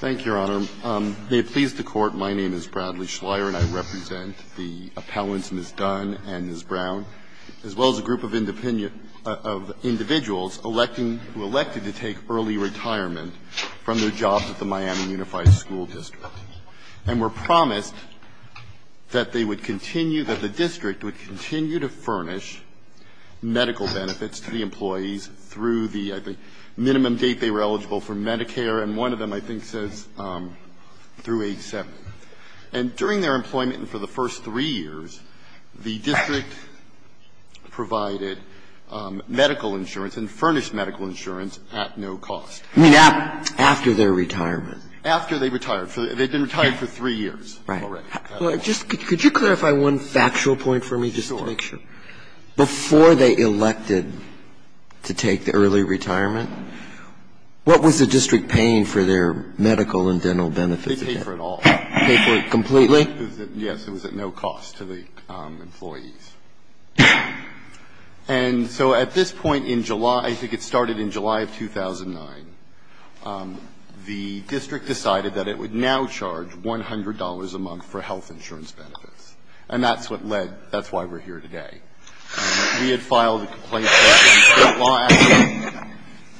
Thank you, Your Honor. May it please the Court, my name is Bradley Schleyer, and I represent the appellants, Ms. Dunn and Ms. Brown, as well as a group of individuals who elected to take early retirement from their jobs at the Miami Unified School District and were promised that the district would continue to furnish medical benefits to the employees through the minimum date they were eligible for Medicare, and one of them, I think, says through age 7. And during their employment and for the first three years, the district provided medical insurance and furnished medical insurance at no cost. I mean, after their retirement. After they retired. They had been retired for three years already. Right. Well, just could you clarify one factual point for me just to make sure? Sure. Before they elected to take the early retirement, what was the district paying for their medical and dental benefits? They paid for it all. They paid for it completely? Yes. It was at no cost to the employees. And so at this point in July, I think it started in July of 2009, the district decided that it would now charge $100 a month for health insurance benefits. And that's what led to why we're here today. We had filed a complaint that the State law actually,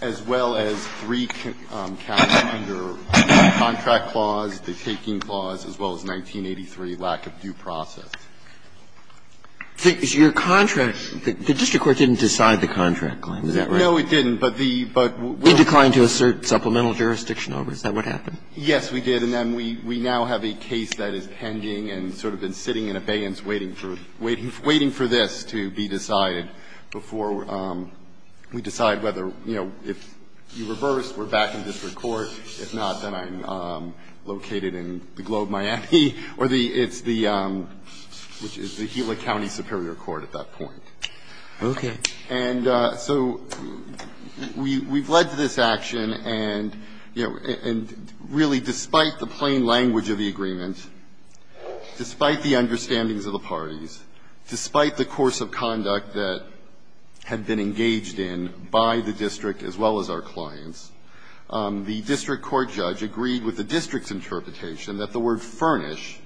as well as three counts under the contract clause, the taking clause, as well as 1983, lack of due process. Your contract – the district court didn't decide the contract claim, is that right? No, it didn't, but the – but we're – It declined to assert supplemental jurisdiction over it. Is that what happened? Yes, we did. And then we now have a case that is pending and sort of been sitting in abeyance waiting for – waiting for this to be decided before we decide whether, you know, if you reverse, we're back in district court. If not, then I'm located in the Globe, Miami, or the – it's the – which is the Gila County Superior Court at that point. Okay. And so we've led to this action, and, you know, and really despite the plain language of the agreement, despite the understandings of the parties, despite the course of conduct that had been engaged in by the district as well as our clients, the district court judge agreed with the district's interpretation that the word furnish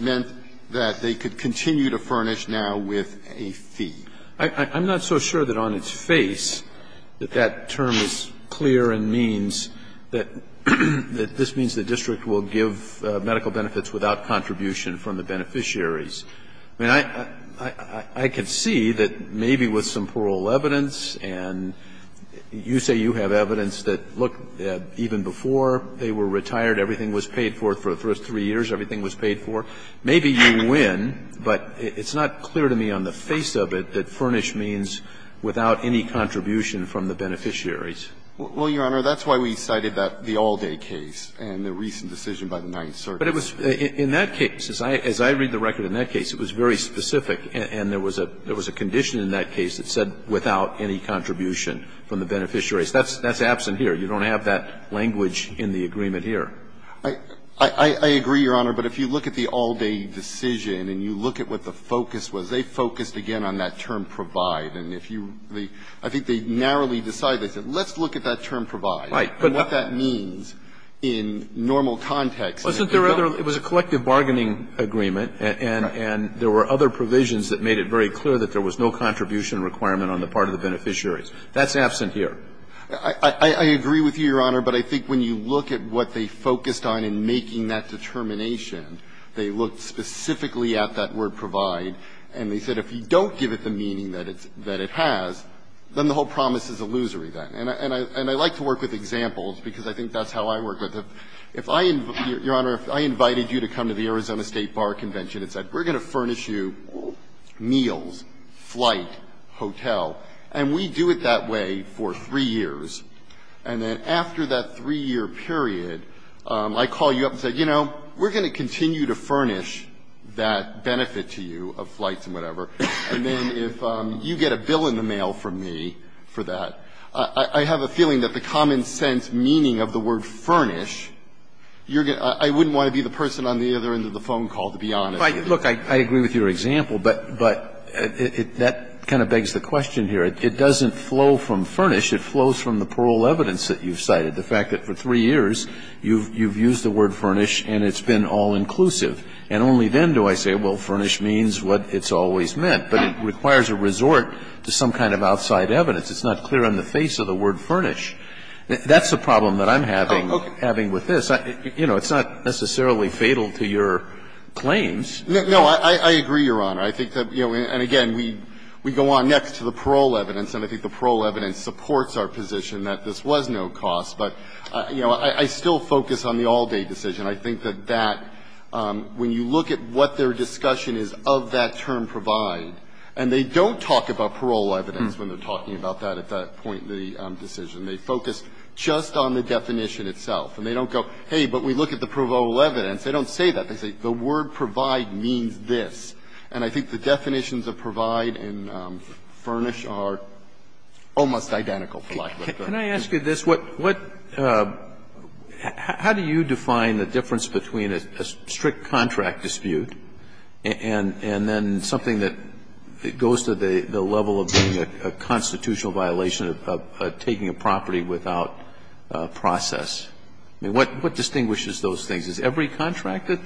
meant that they could continue to furnish now with a fee. I'm not so sure that on its face that that term is clear and means that this means the district will give medical benefits without contribution from the beneficiaries. I mean, I can see that maybe with some plural evidence, and you say you have evidence that, look, even before they were retired, everything was paid for, for the first three years everything was paid for, maybe you win, but it's not clear to me on the face of it that furnish means without any contribution from the beneficiaries. Well, Your Honor, that's why we cited that the all-day case and the recent decision by the Ninth Circuit. But it was – in that case, as I read the record in that case, it was very specific, and there was a condition in that case that said without any contribution from the beneficiaries. That's absent here. You don't have that language in the agreement here. I agree, Your Honor, but if you look at the all-day decision and you look at what the focus was, they focused, again, on that term provide. And if you – I think they narrowly decided, they said, let's look at that term provide and what that means in normal context. Wasn't there other – it was a collective bargaining agreement, and there were other provisions that made it very clear that there was no contribution requirement on the part of the beneficiaries. That's absent here. I agree with you, Your Honor, but I think when you look at what they focused on in making that determination, they looked specifically at that word provide, and they said if you don't give it the meaning that it has, then the whole promise is illusory then. And I like to work with examples, because I think that's how I work with it. If I – Your Honor, if I invited you to come to the Arizona State Bar Convention and said we're going to furnish you meals, flight, hotel, and we do it that way for 3 years, and then after that 3-year period, I call you up and say, you know, we're going to continue to furnish that benefit to you of flights and whatever, and then if you get a bill in the mail from me for that, I have a feeling that the common sense meaning of the word furnish, you're going to – I wouldn't want to be the person on the other end of the phone call, to be honest. Look, I agree with your example, but that kind of begs the question here. It doesn't flow from furnish. It flows from the parole evidence that you've cited, the fact that for 3 years, you've used the word furnish and it's been all-inclusive. And only then do I say, well, furnish means what it's always meant. But it requires a resort to some kind of outside evidence. It's not clear on the face of the word furnish. That's the problem that I'm having with this. You know, it's not necessarily fatal to your claims. No. I agree, Your Honor. I think that, you know, and again, we go on next to the parole evidence, and I think the parole evidence supports our position that this was no cost. But, you know, I still focus on the all-day decision. I think that that, when you look at what their discussion is of that term provide, and they don't talk about parole evidence when they're talking about that at that point in the decision. They focus just on the definition itself. And they don't go, hey, but we look at the parole evidence. They don't say that. They say, the word provide means this. And I think the definitions of provide and furnish are almost identical. Kennedy. Can I ask you this? What do you define the difference between a strict contract dispute and then something that goes to the level of being a constitutional violation of taking a property without process? I mean, what distinguishes those things? Is every contract that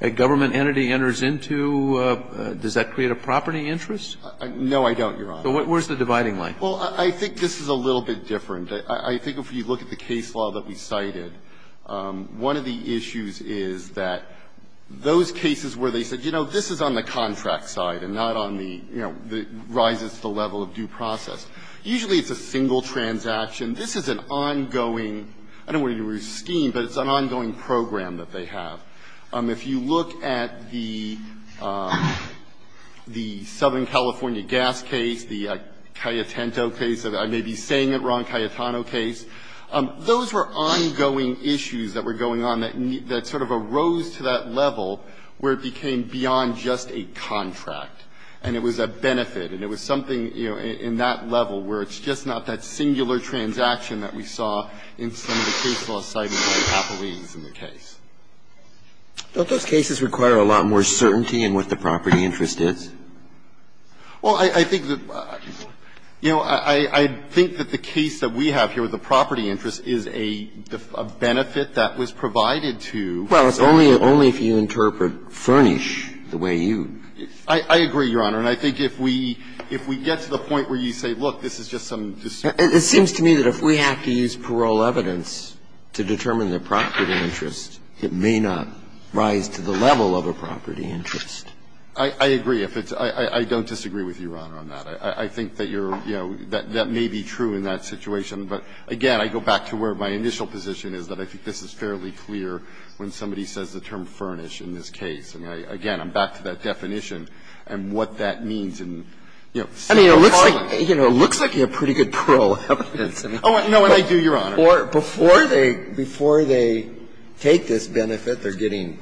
the government entity enters into, does that create a property interest? No, I don't, Your Honor. So where's the dividing line? Well, I think this is a little bit different. I think if you look at the case law that we cited, one of the issues is that those cases where they said, you know, this is on the contract side and not on the, you know, rises to the level of due process, usually it's a single transaction. This is an ongoing – I don't want to use scheme, but it's an ongoing program that they have. If you look at the Southern California gas case, the Cayetano case, I may be saying it wrong, Cayetano case, those were ongoing issues that were going on that sort of arose to that level where it became beyond just a contract. And it was a benefit, and it was something, you know, in that level where it's just not that singular transaction that we saw in some of the case law citing by Capolese in the case. Don't those cases require a lot more certainty in what the property interest is? Well, I think that, you know, I think that the case that we have here with the property interest is a benefit that was provided to the State. Well, it's only if you interpret furnish the way you do. I agree, Your Honor. And I think if we get to the point where you say, look, this is just some dispute case. It seems to me that if we have to use parole evidence to determine the property interest, it may not rise to the level of a property interest. I agree. I don't disagree with you, Your Honor, on that. I think that you're, you know, that may be true in that situation. But again, I go back to where my initial position is, that I think this is fairly clear when somebody says the term furnish in this case. And again, I'm back to that definition and what that means in, you know, civil trial. I mean, it looks like, you know, it looks like you have pretty good parole evidence. Oh, no, and I do, Your Honor. Before they take this benefit, they're getting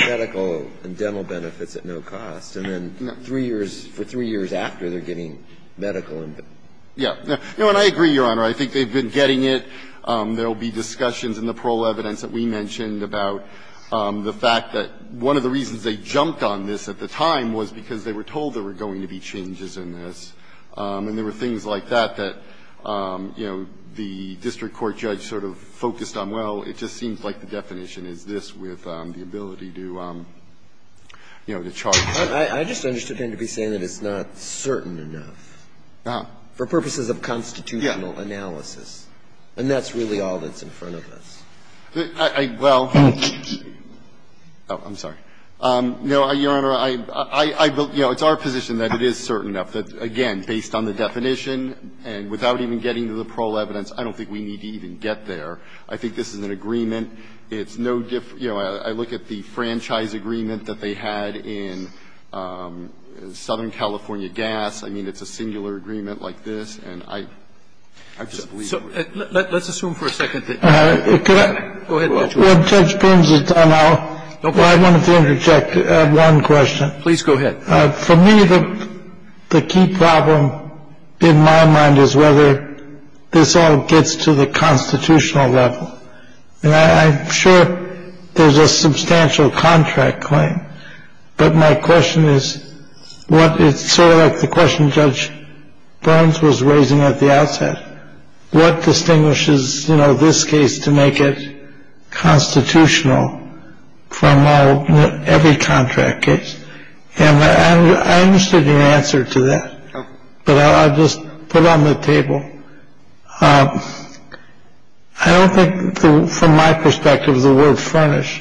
medical and dental benefits at no cost, and then three years, for three years after, they're getting medical and dental. Yeah. No, and I agree, Your Honor. I think they've been getting it. There will be discussions in the parole evidence that we mentioned about the fact that one of the reasons they jumped on this at the time was because they were told there were going to be changes in this. And there were things like that, that, you know, the district court judge sort of focused on, well, it just seems like the definition is this with the ability to, you know, to charge. I just understood him to be saying that it's not certain enough. Oh. For purposes of constitutional analysis. And that's really all that's in front of us. Well, oh, I'm sorry. No, Your Honor, I believe, you know, it's our position that it is certain enough. That, again, based on the definition and without even getting to the parole evidence, I don't think we need to even get there. I think this is an agreement. It's no different, you know, I look at the franchise agreement that they had in Southern California Gas. I mean, it's a singular agreement like this, and I just believe it's a singular agreement. Let's assume for a second that you're correct. Go ahead, Mr. Walsh. When Judge Pins is done, I'll go ahead and interject one question. Please go ahead. For me, the key problem in my mind is whether this all gets to the constitutional level. And I'm sure there's a substantial contract claim. But my question is what it's sort of like the question Judge Burns was raising at the outset. What distinguishes this case to make it constitutional? From all every contract case. And I understood your answer to that. But I'll just put on the table. I don't think from my perspective, the word furnish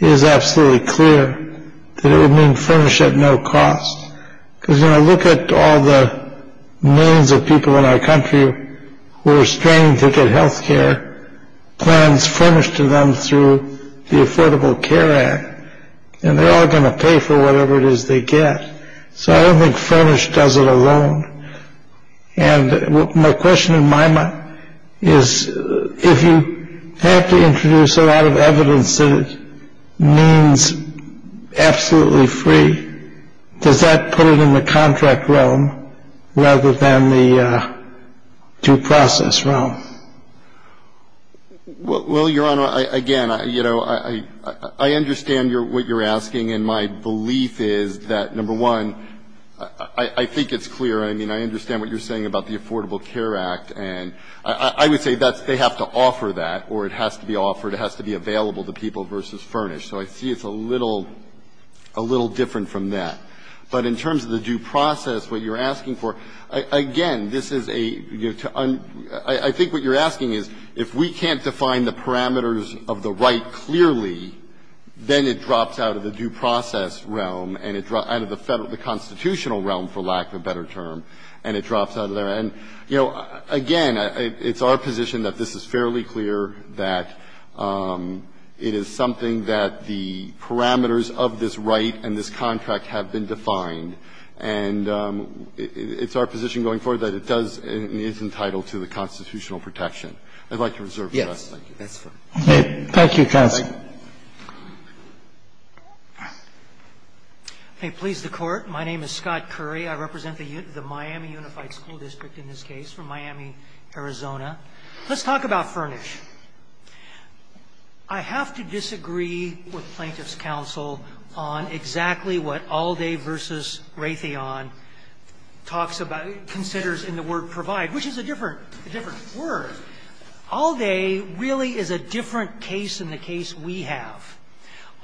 is absolutely clear that it would mean furnish at no cost because I look at all the millions of people in our country who are trying to get health care plans furnished to them through the Affordable Care Act. And they're all going to pay for whatever it is they get. So I don't think furnish does it alone. And my question in my mind is, if you have to introduce a lot of evidence that means furnish is absolutely free, does that put it in the contract realm rather than the due process realm? Well, Your Honor, again, you know, I understand what you're asking. And my belief is that, number one, I think it's clear. I mean, I understand what you're saying about the Affordable Care Act. And I would say that's they have to offer that or it has to be offered. It has to be available to people versus furnish. So I see it's a little, a little different from that. But in terms of the due process, what you're asking for, again, this is a, you know, I think what you're asking is, if we can't define the parameters of the right clearly, then it drops out of the due process realm and it drops out of the federal, the constitutional realm, for lack of a better term, and it drops out of there. And, you know, again, it's our position that this is fairly clear, that it is something that the parameters of this right and this contract have been defined. And it's our position going forward that it does, it is entitled to the constitutional protection. I'd like to reserve that. Thank you. Thank you, counsel. May it please the Court. My name is Scott Curry. I represent the Miami Unified School District in this case from Miami, Arizona. Let's talk about furnish. I have to disagree with plaintiff's counsel on exactly what Allday versus Raytheon talks about, considers in the word provide, which is a different, a different word. Allday really is a different case than the case we have.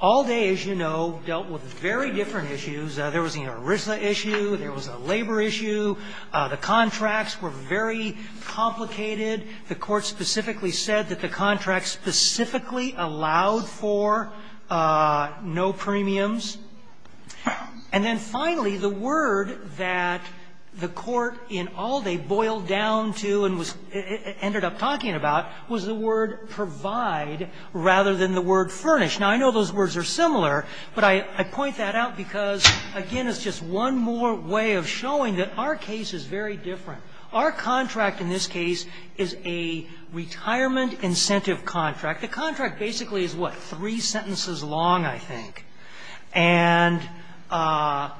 Allday, as you know, dealt with very different issues. There was the ERISA issue, there was a labor issue, the contracts were very complicated. The Court specifically said that the contracts specifically allowed for no premiums. And then finally, the word that the Court in Allday boiled down to and was ended up talking about was the word provide rather than the word furnish. Now, I know those words are similar, but I point that out because, again, it's just one more way of showing that our case is very different. Our contract in this case is a retirement incentive contract. The contract basically is, what, three sentences long, I think. And the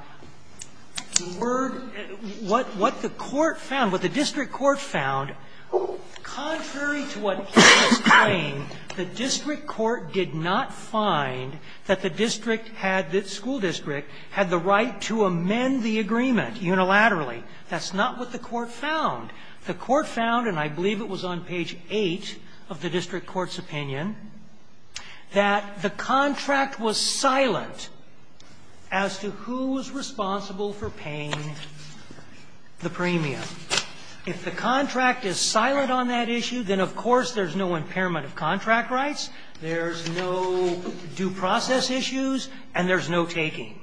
word, what the court found, what the district court found, contrary to what the district court found, was that the district court did not find that the district had, the school district had the right to amend the agreement unilaterally. That's not what the court found. The court found, and I believe it was on page 8 of the district court's opinion, that the contract was silent as to who was responsible for paying the premium. If the contract is silent on that issue, then, of course, there's no impairment of contract rights, there's no due process issues, and there's no taking.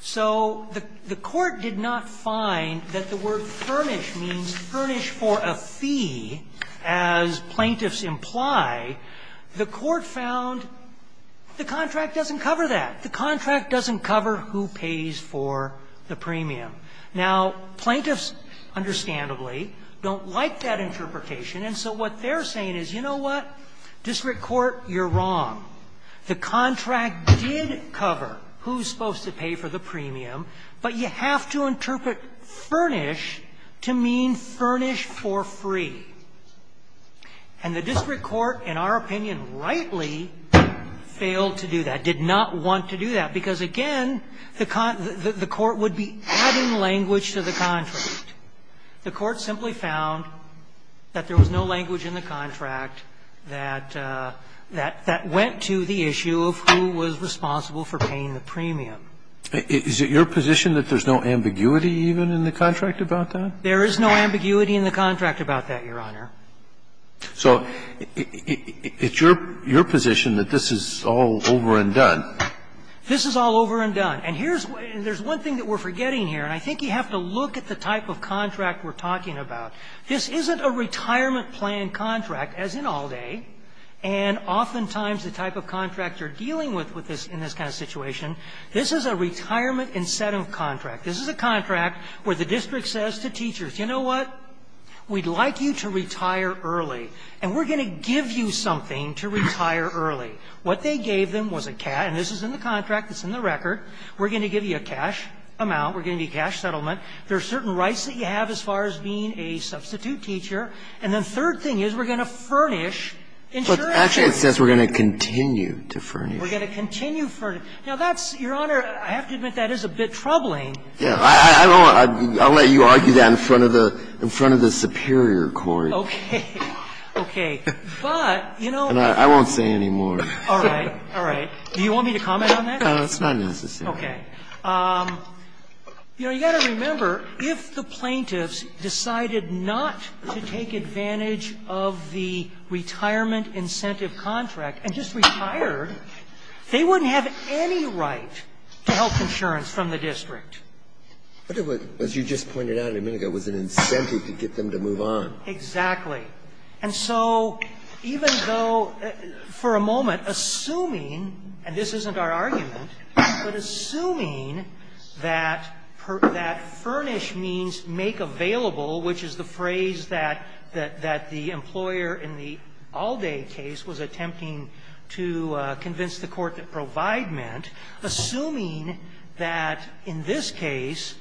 So the Court did not find that the word furnish means furnish for a fee, as plaintiffs imply. The Court found the contract doesn't cover that. The contract doesn't cover who pays for the premium. Now, plaintiffs, understandably, don't like that interpretation. And so what they're saying is, you know what, district court, you're wrong. The contract did cover who's supposed to pay for the premium, but you have to interpret furnish to mean furnish for free. And the district court, in our opinion, rightly failed to do that, did not want to do that, because, again, the court would be adding language to the contract. The court simply found that there was no language in the contract that went to the issue of who was responsible for paying the premium. Is it your position that there's no ambiguity even in the contract about that? There is no ambiguity in the contract about that, Your Honor. So it's your position that this is all over and done? This is all over and done. And here's one thing that we're forgetting here, and I think you have to look at the type of contract we're talking about. This isn't a retirement plan contract, as in Alde, and oftentimes the type of contract you're dealing with in this kind of situation, this is a retirement incentive contract. This is a contract where the district says to teachers, you know what, we'd like you to retire early, and we're going to give you something to retire early. What they gave them was a cat, and this is in the contract, it's in the record. We're going to give you a cash amount, we're going to give you a cash settlement. There are certain rights that you have as far as being a substitute teacher. And the third thing is we're going to furnish insurance. But actually it says we're going to continue to furnish. We're going to continue to furnish. Now, that's, Your Honor, I have to admit that is a bit troubling. Yeah. I don't want to – I'll let you argue that in front of the – in front of the superior court. Okay. Okay. But, you know – And I won't say any more. All right. All right. Do you want me to comment on that? No, it's not necessary. Okay. You know, you've got to remember, if the plaintiffs decided not to take advantage of the retirement incentive contract and just retired, they wouldn't have any right to health insurance from the district. But it was, as you just pointed out a minute ago, it was an incentive to get them to move on. Exactly. And so even though, for a moment, assuming – and this isn't our argument, but assuming that furnish means make available, which is the phrase that the employer in the Alde case was attempting to convince the court that provide meant, assuming that in this case,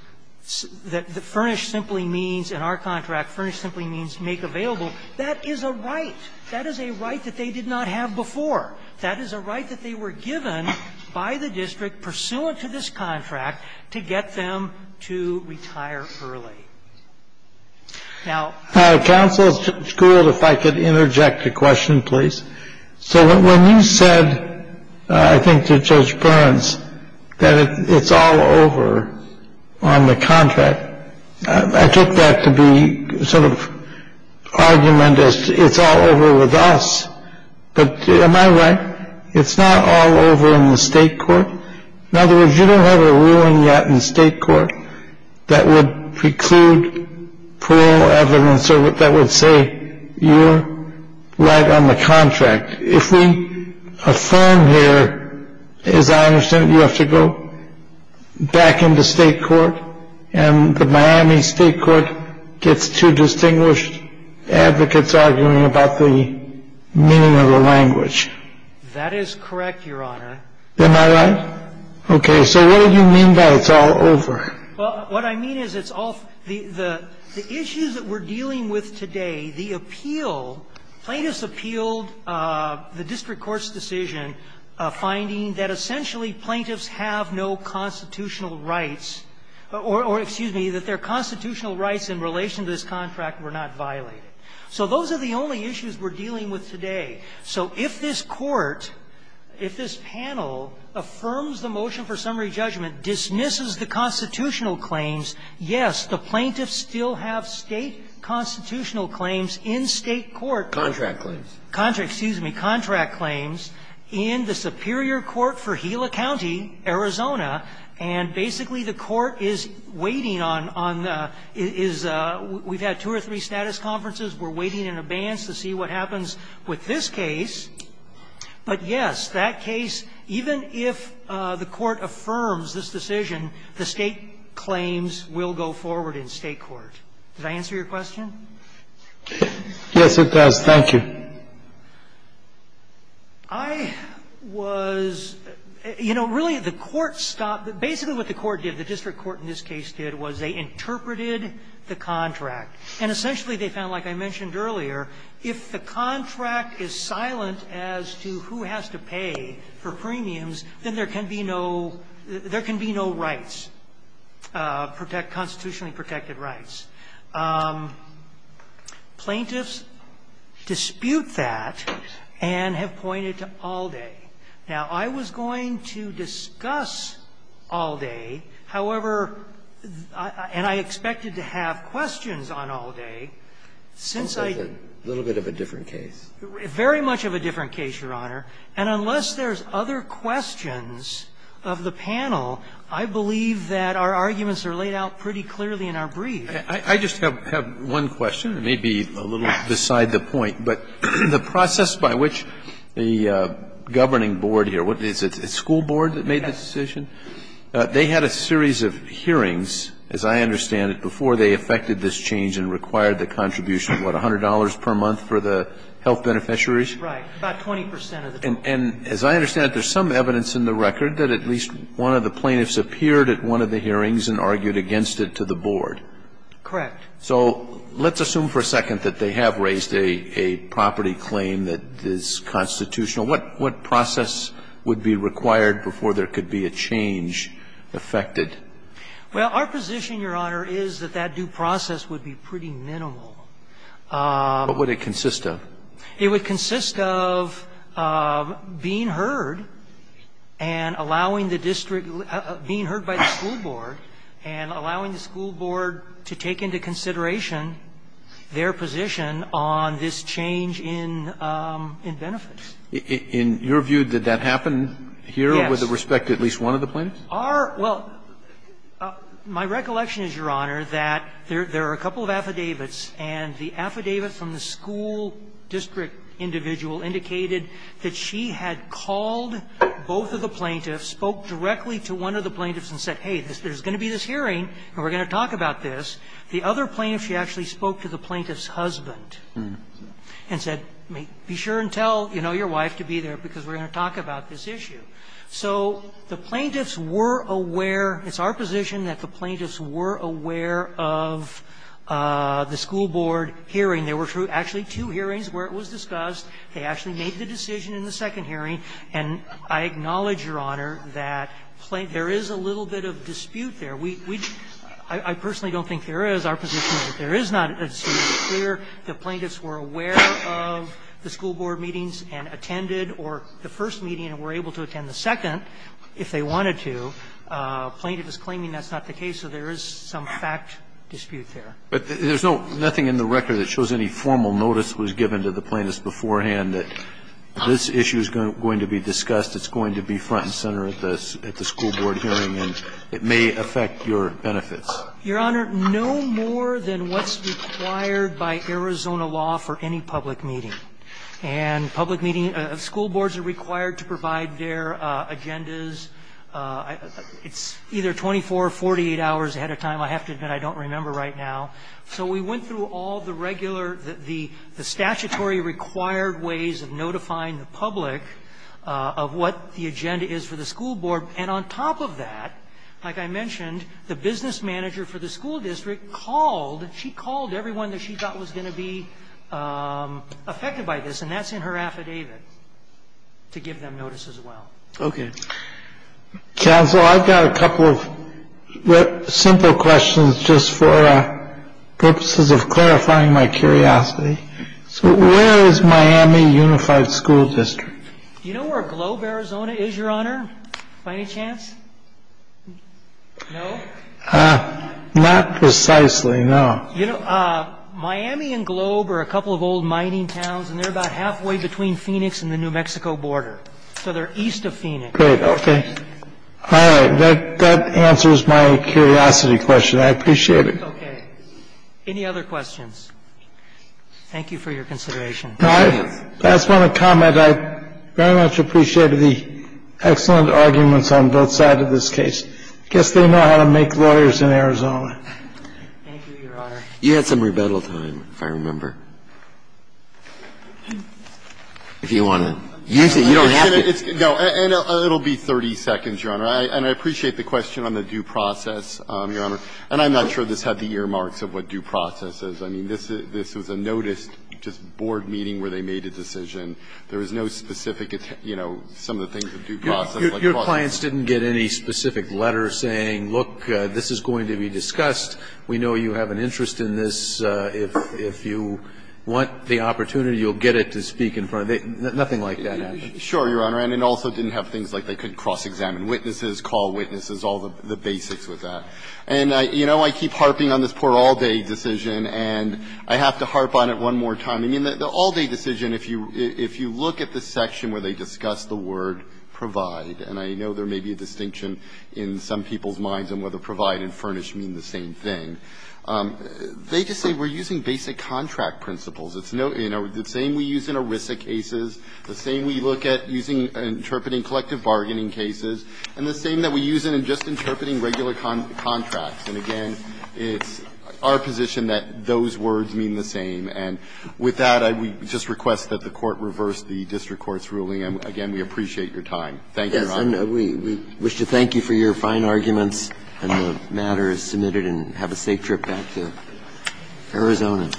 that furnish simply means, in our contract, furnish simply means make available, that is a right. That is a right that they did not have before. That is a right that they were given by the district, pursuant to this contract, to get them to retire early. Now – Counsel, Judge Gould, if I could interject a question, please. So when you said, I think to Judge Burns, that it's all over on the contract, I took that to be sort of argument as, it's all over with us. But am I right? It's not all over in the state court? In other words, you don't have a ruling yet in state court that would preclude parole evidence or that would say, you're right on the contract. If we affirm here, as I understand it, you have to go back into state court, and the Miami State Court gets two distinguished advocates arguing about the meaning of the language. That is correct, Your Honor. Am I right? Okay. So what do you mean by it's all over? Well, what I mean is it's all – the issues that we're dealing with today, the appeal – plaintiffs appealed the district court's decision finding that essentially plaintiffs have no constitutional rights, or, excuse me, that their constitutional rights in relation to this contract were not violated. So those are the only issues we're dealing with today. So if this Court, if this panel affirms the motion for summary judgment, dismisses the constitutional claims, yes, the plaintiffs still have State constitutional claims in State court. Contract claims. Contract – excuse me. Contract claims in the superior court for Gila County, Arizona, and basically the Court is waiting on the – is – we've had two or three status conferences. We're waiting in advance to see what happens with this case. But, yes, that case, even if the Court affirms this decision, the State claims will go forward in State court. Does that answer your question? Yes, it does. Thank you. I was – you know, really, the Court stopped – basically what the Court did, the district court in this case did, was they interpreted the contract. And essentially they found, like I mentioned earlier, if the contract is silent as to who has to pay for premiums, then there can be no – there can be no rights, constitutionally protected rights. Plaintiffs dispute that and have pointed to Alde. Now, I was going to discuss Alde. However, and I expected to have questions on Alde. Since I – It sounds like a little bit of a different case. Very much of a different case, Your Honor. And unless there's other questions of the panel, I believe that our arguments are laid out pretty clearly in our brief. I just have one question. It may be a little beside the point. But the process by which the governing board here – is it school board that made this decision? They had a series of hearings, as I understand it, before they effected this change and required the contribution of, what, $100 per month for the health beneficiaries? Right. About 20 percent of the time. And as I understand it, there's some evidence in the record that at least one of the plaintiffs appeared at one of the hearings and argued against it to the board. Correct. So let's assume for a second that they have raised a property claim that is constitutional. What process would be required before there could be a change effected? Well, our position, Your Honor, is that that due process would be pretty minimal. What would it consist of? It would consist of being heard and allowing the district – being heard by the school board to take into consideration their position on this change in benefits. In your view, did that happen here? Yes. With respect to at least one of the plaintiffs? Our – well, my recollection is, Your Honor, that there are a couple of affidavits. And the affidavit from the school district individual indicated that she had called both of the plaintiffs, spoke directly to one of the plaintiffs and said, hey, there's going to be this hearing and we're going to talk about this. The other plaintiff, she actually spoke to the plaintiff's husband and said, be sure and tell, you know, your wife to be there, because we're going to talk about this issue. So the plaintiffs were aware – it's our position that the plaintiffs were aware of the school board hearing. There were actually two hearings where it was discussed. They actually made the decision in the second hearing. And I acknowledge, Your Honor, that there is a little bit of dispute there. We – I personally don't think there is. Our position is that there is not. It's clear the plaintiffs were aware of the school board meetings and attended or the first meeting and were able to attend the second if they wanted to. The plaintiff is claiming that's not the case, so there is some fact dispute there. But there's no – nothing in the record that shows any formal notice was given to the plaintiffs beforehand that this issue is going to be discussed, it's going to be front and center at the school board hearing, and it may affect your benefits. Your Honor, no more than what's required by Arizona law for any public meeting. And public meeting – school boards are required to provide their agendas. It's either 24 or 48 hours ahead of time. I have to admit I don't remember right now. So we went through all the regular – the statutory required ways of notifying the public of what the agenda is for the school board. And on top of that, like I mentioned, the business manager for the school district called – she called everyone that she thought was going to be affected by this, and that's in her affidavit to give them notice as well. Okay. Counsel, I've got a couple of simple questions just for purposes of clarifying my curiosity. So where is Miami Unified School District? Do you know where Globe, Arizona, is, Your Honor, by any chance? No? Not precisely, no. You know, Miami and Globe are a couple of old mining towns, and they're about halfway between Phoenix and the New Mexico border. So they're east of Phoenix. Great. Okay. All right. That answers my curiosity question. I appreciate it. Okay. Any other questions? Thank you for your consideration. If I may comment, I very much appreciated the excellent arguments on both sides of this case. I guess they know how to make lawyers in Arizona. Thank you, Your Honor. You had some rebuttal time, if I remember. If you want to. Usually you don't have to. No. And it'll be 30 seconds, Your Honor. And I appreciate the question on the due process, Your Honor. And I'm not sure this had the earmarks of what due process is. I mean, this was a noticed just board meeting where they made a decision. There was no specific, you know, some of the things of due process. Your clients didn't get any specific letter saying, look, this is going to be discussed. We know you have an interest in this. If you want the opportunity, you'll get it to speak in front of them. Nothing like that happened. Sure, Your Honor. And it also didn't have things like they couldn't cross-examine witnesses, call witnesses, all the basics with that. And, you know, I keep harping on this poor all-day decision, and I have to harp on it one more time. I mean, the all-day decision, if you look at the section where they discuss the word provide, and I know there may be a distinction in some people's minds on whether provide and furnish mean the same thing. They just say we're using basic contract principles. It's no, you know, the same we use in ERISA cases, the same we look at using and interpreting collective bargaining cases, and the same that we use in just interpreting regular contracts. And, again, it's our position that those words mean the same. And with that, I would just request that the Court reverse the district court's ruling. And, again, we appreciate your time. Thank you, Your Honor. Yes, and we wish to thank you for your fine arguments, and the matter is submitted and have a safe trip back to Arizona.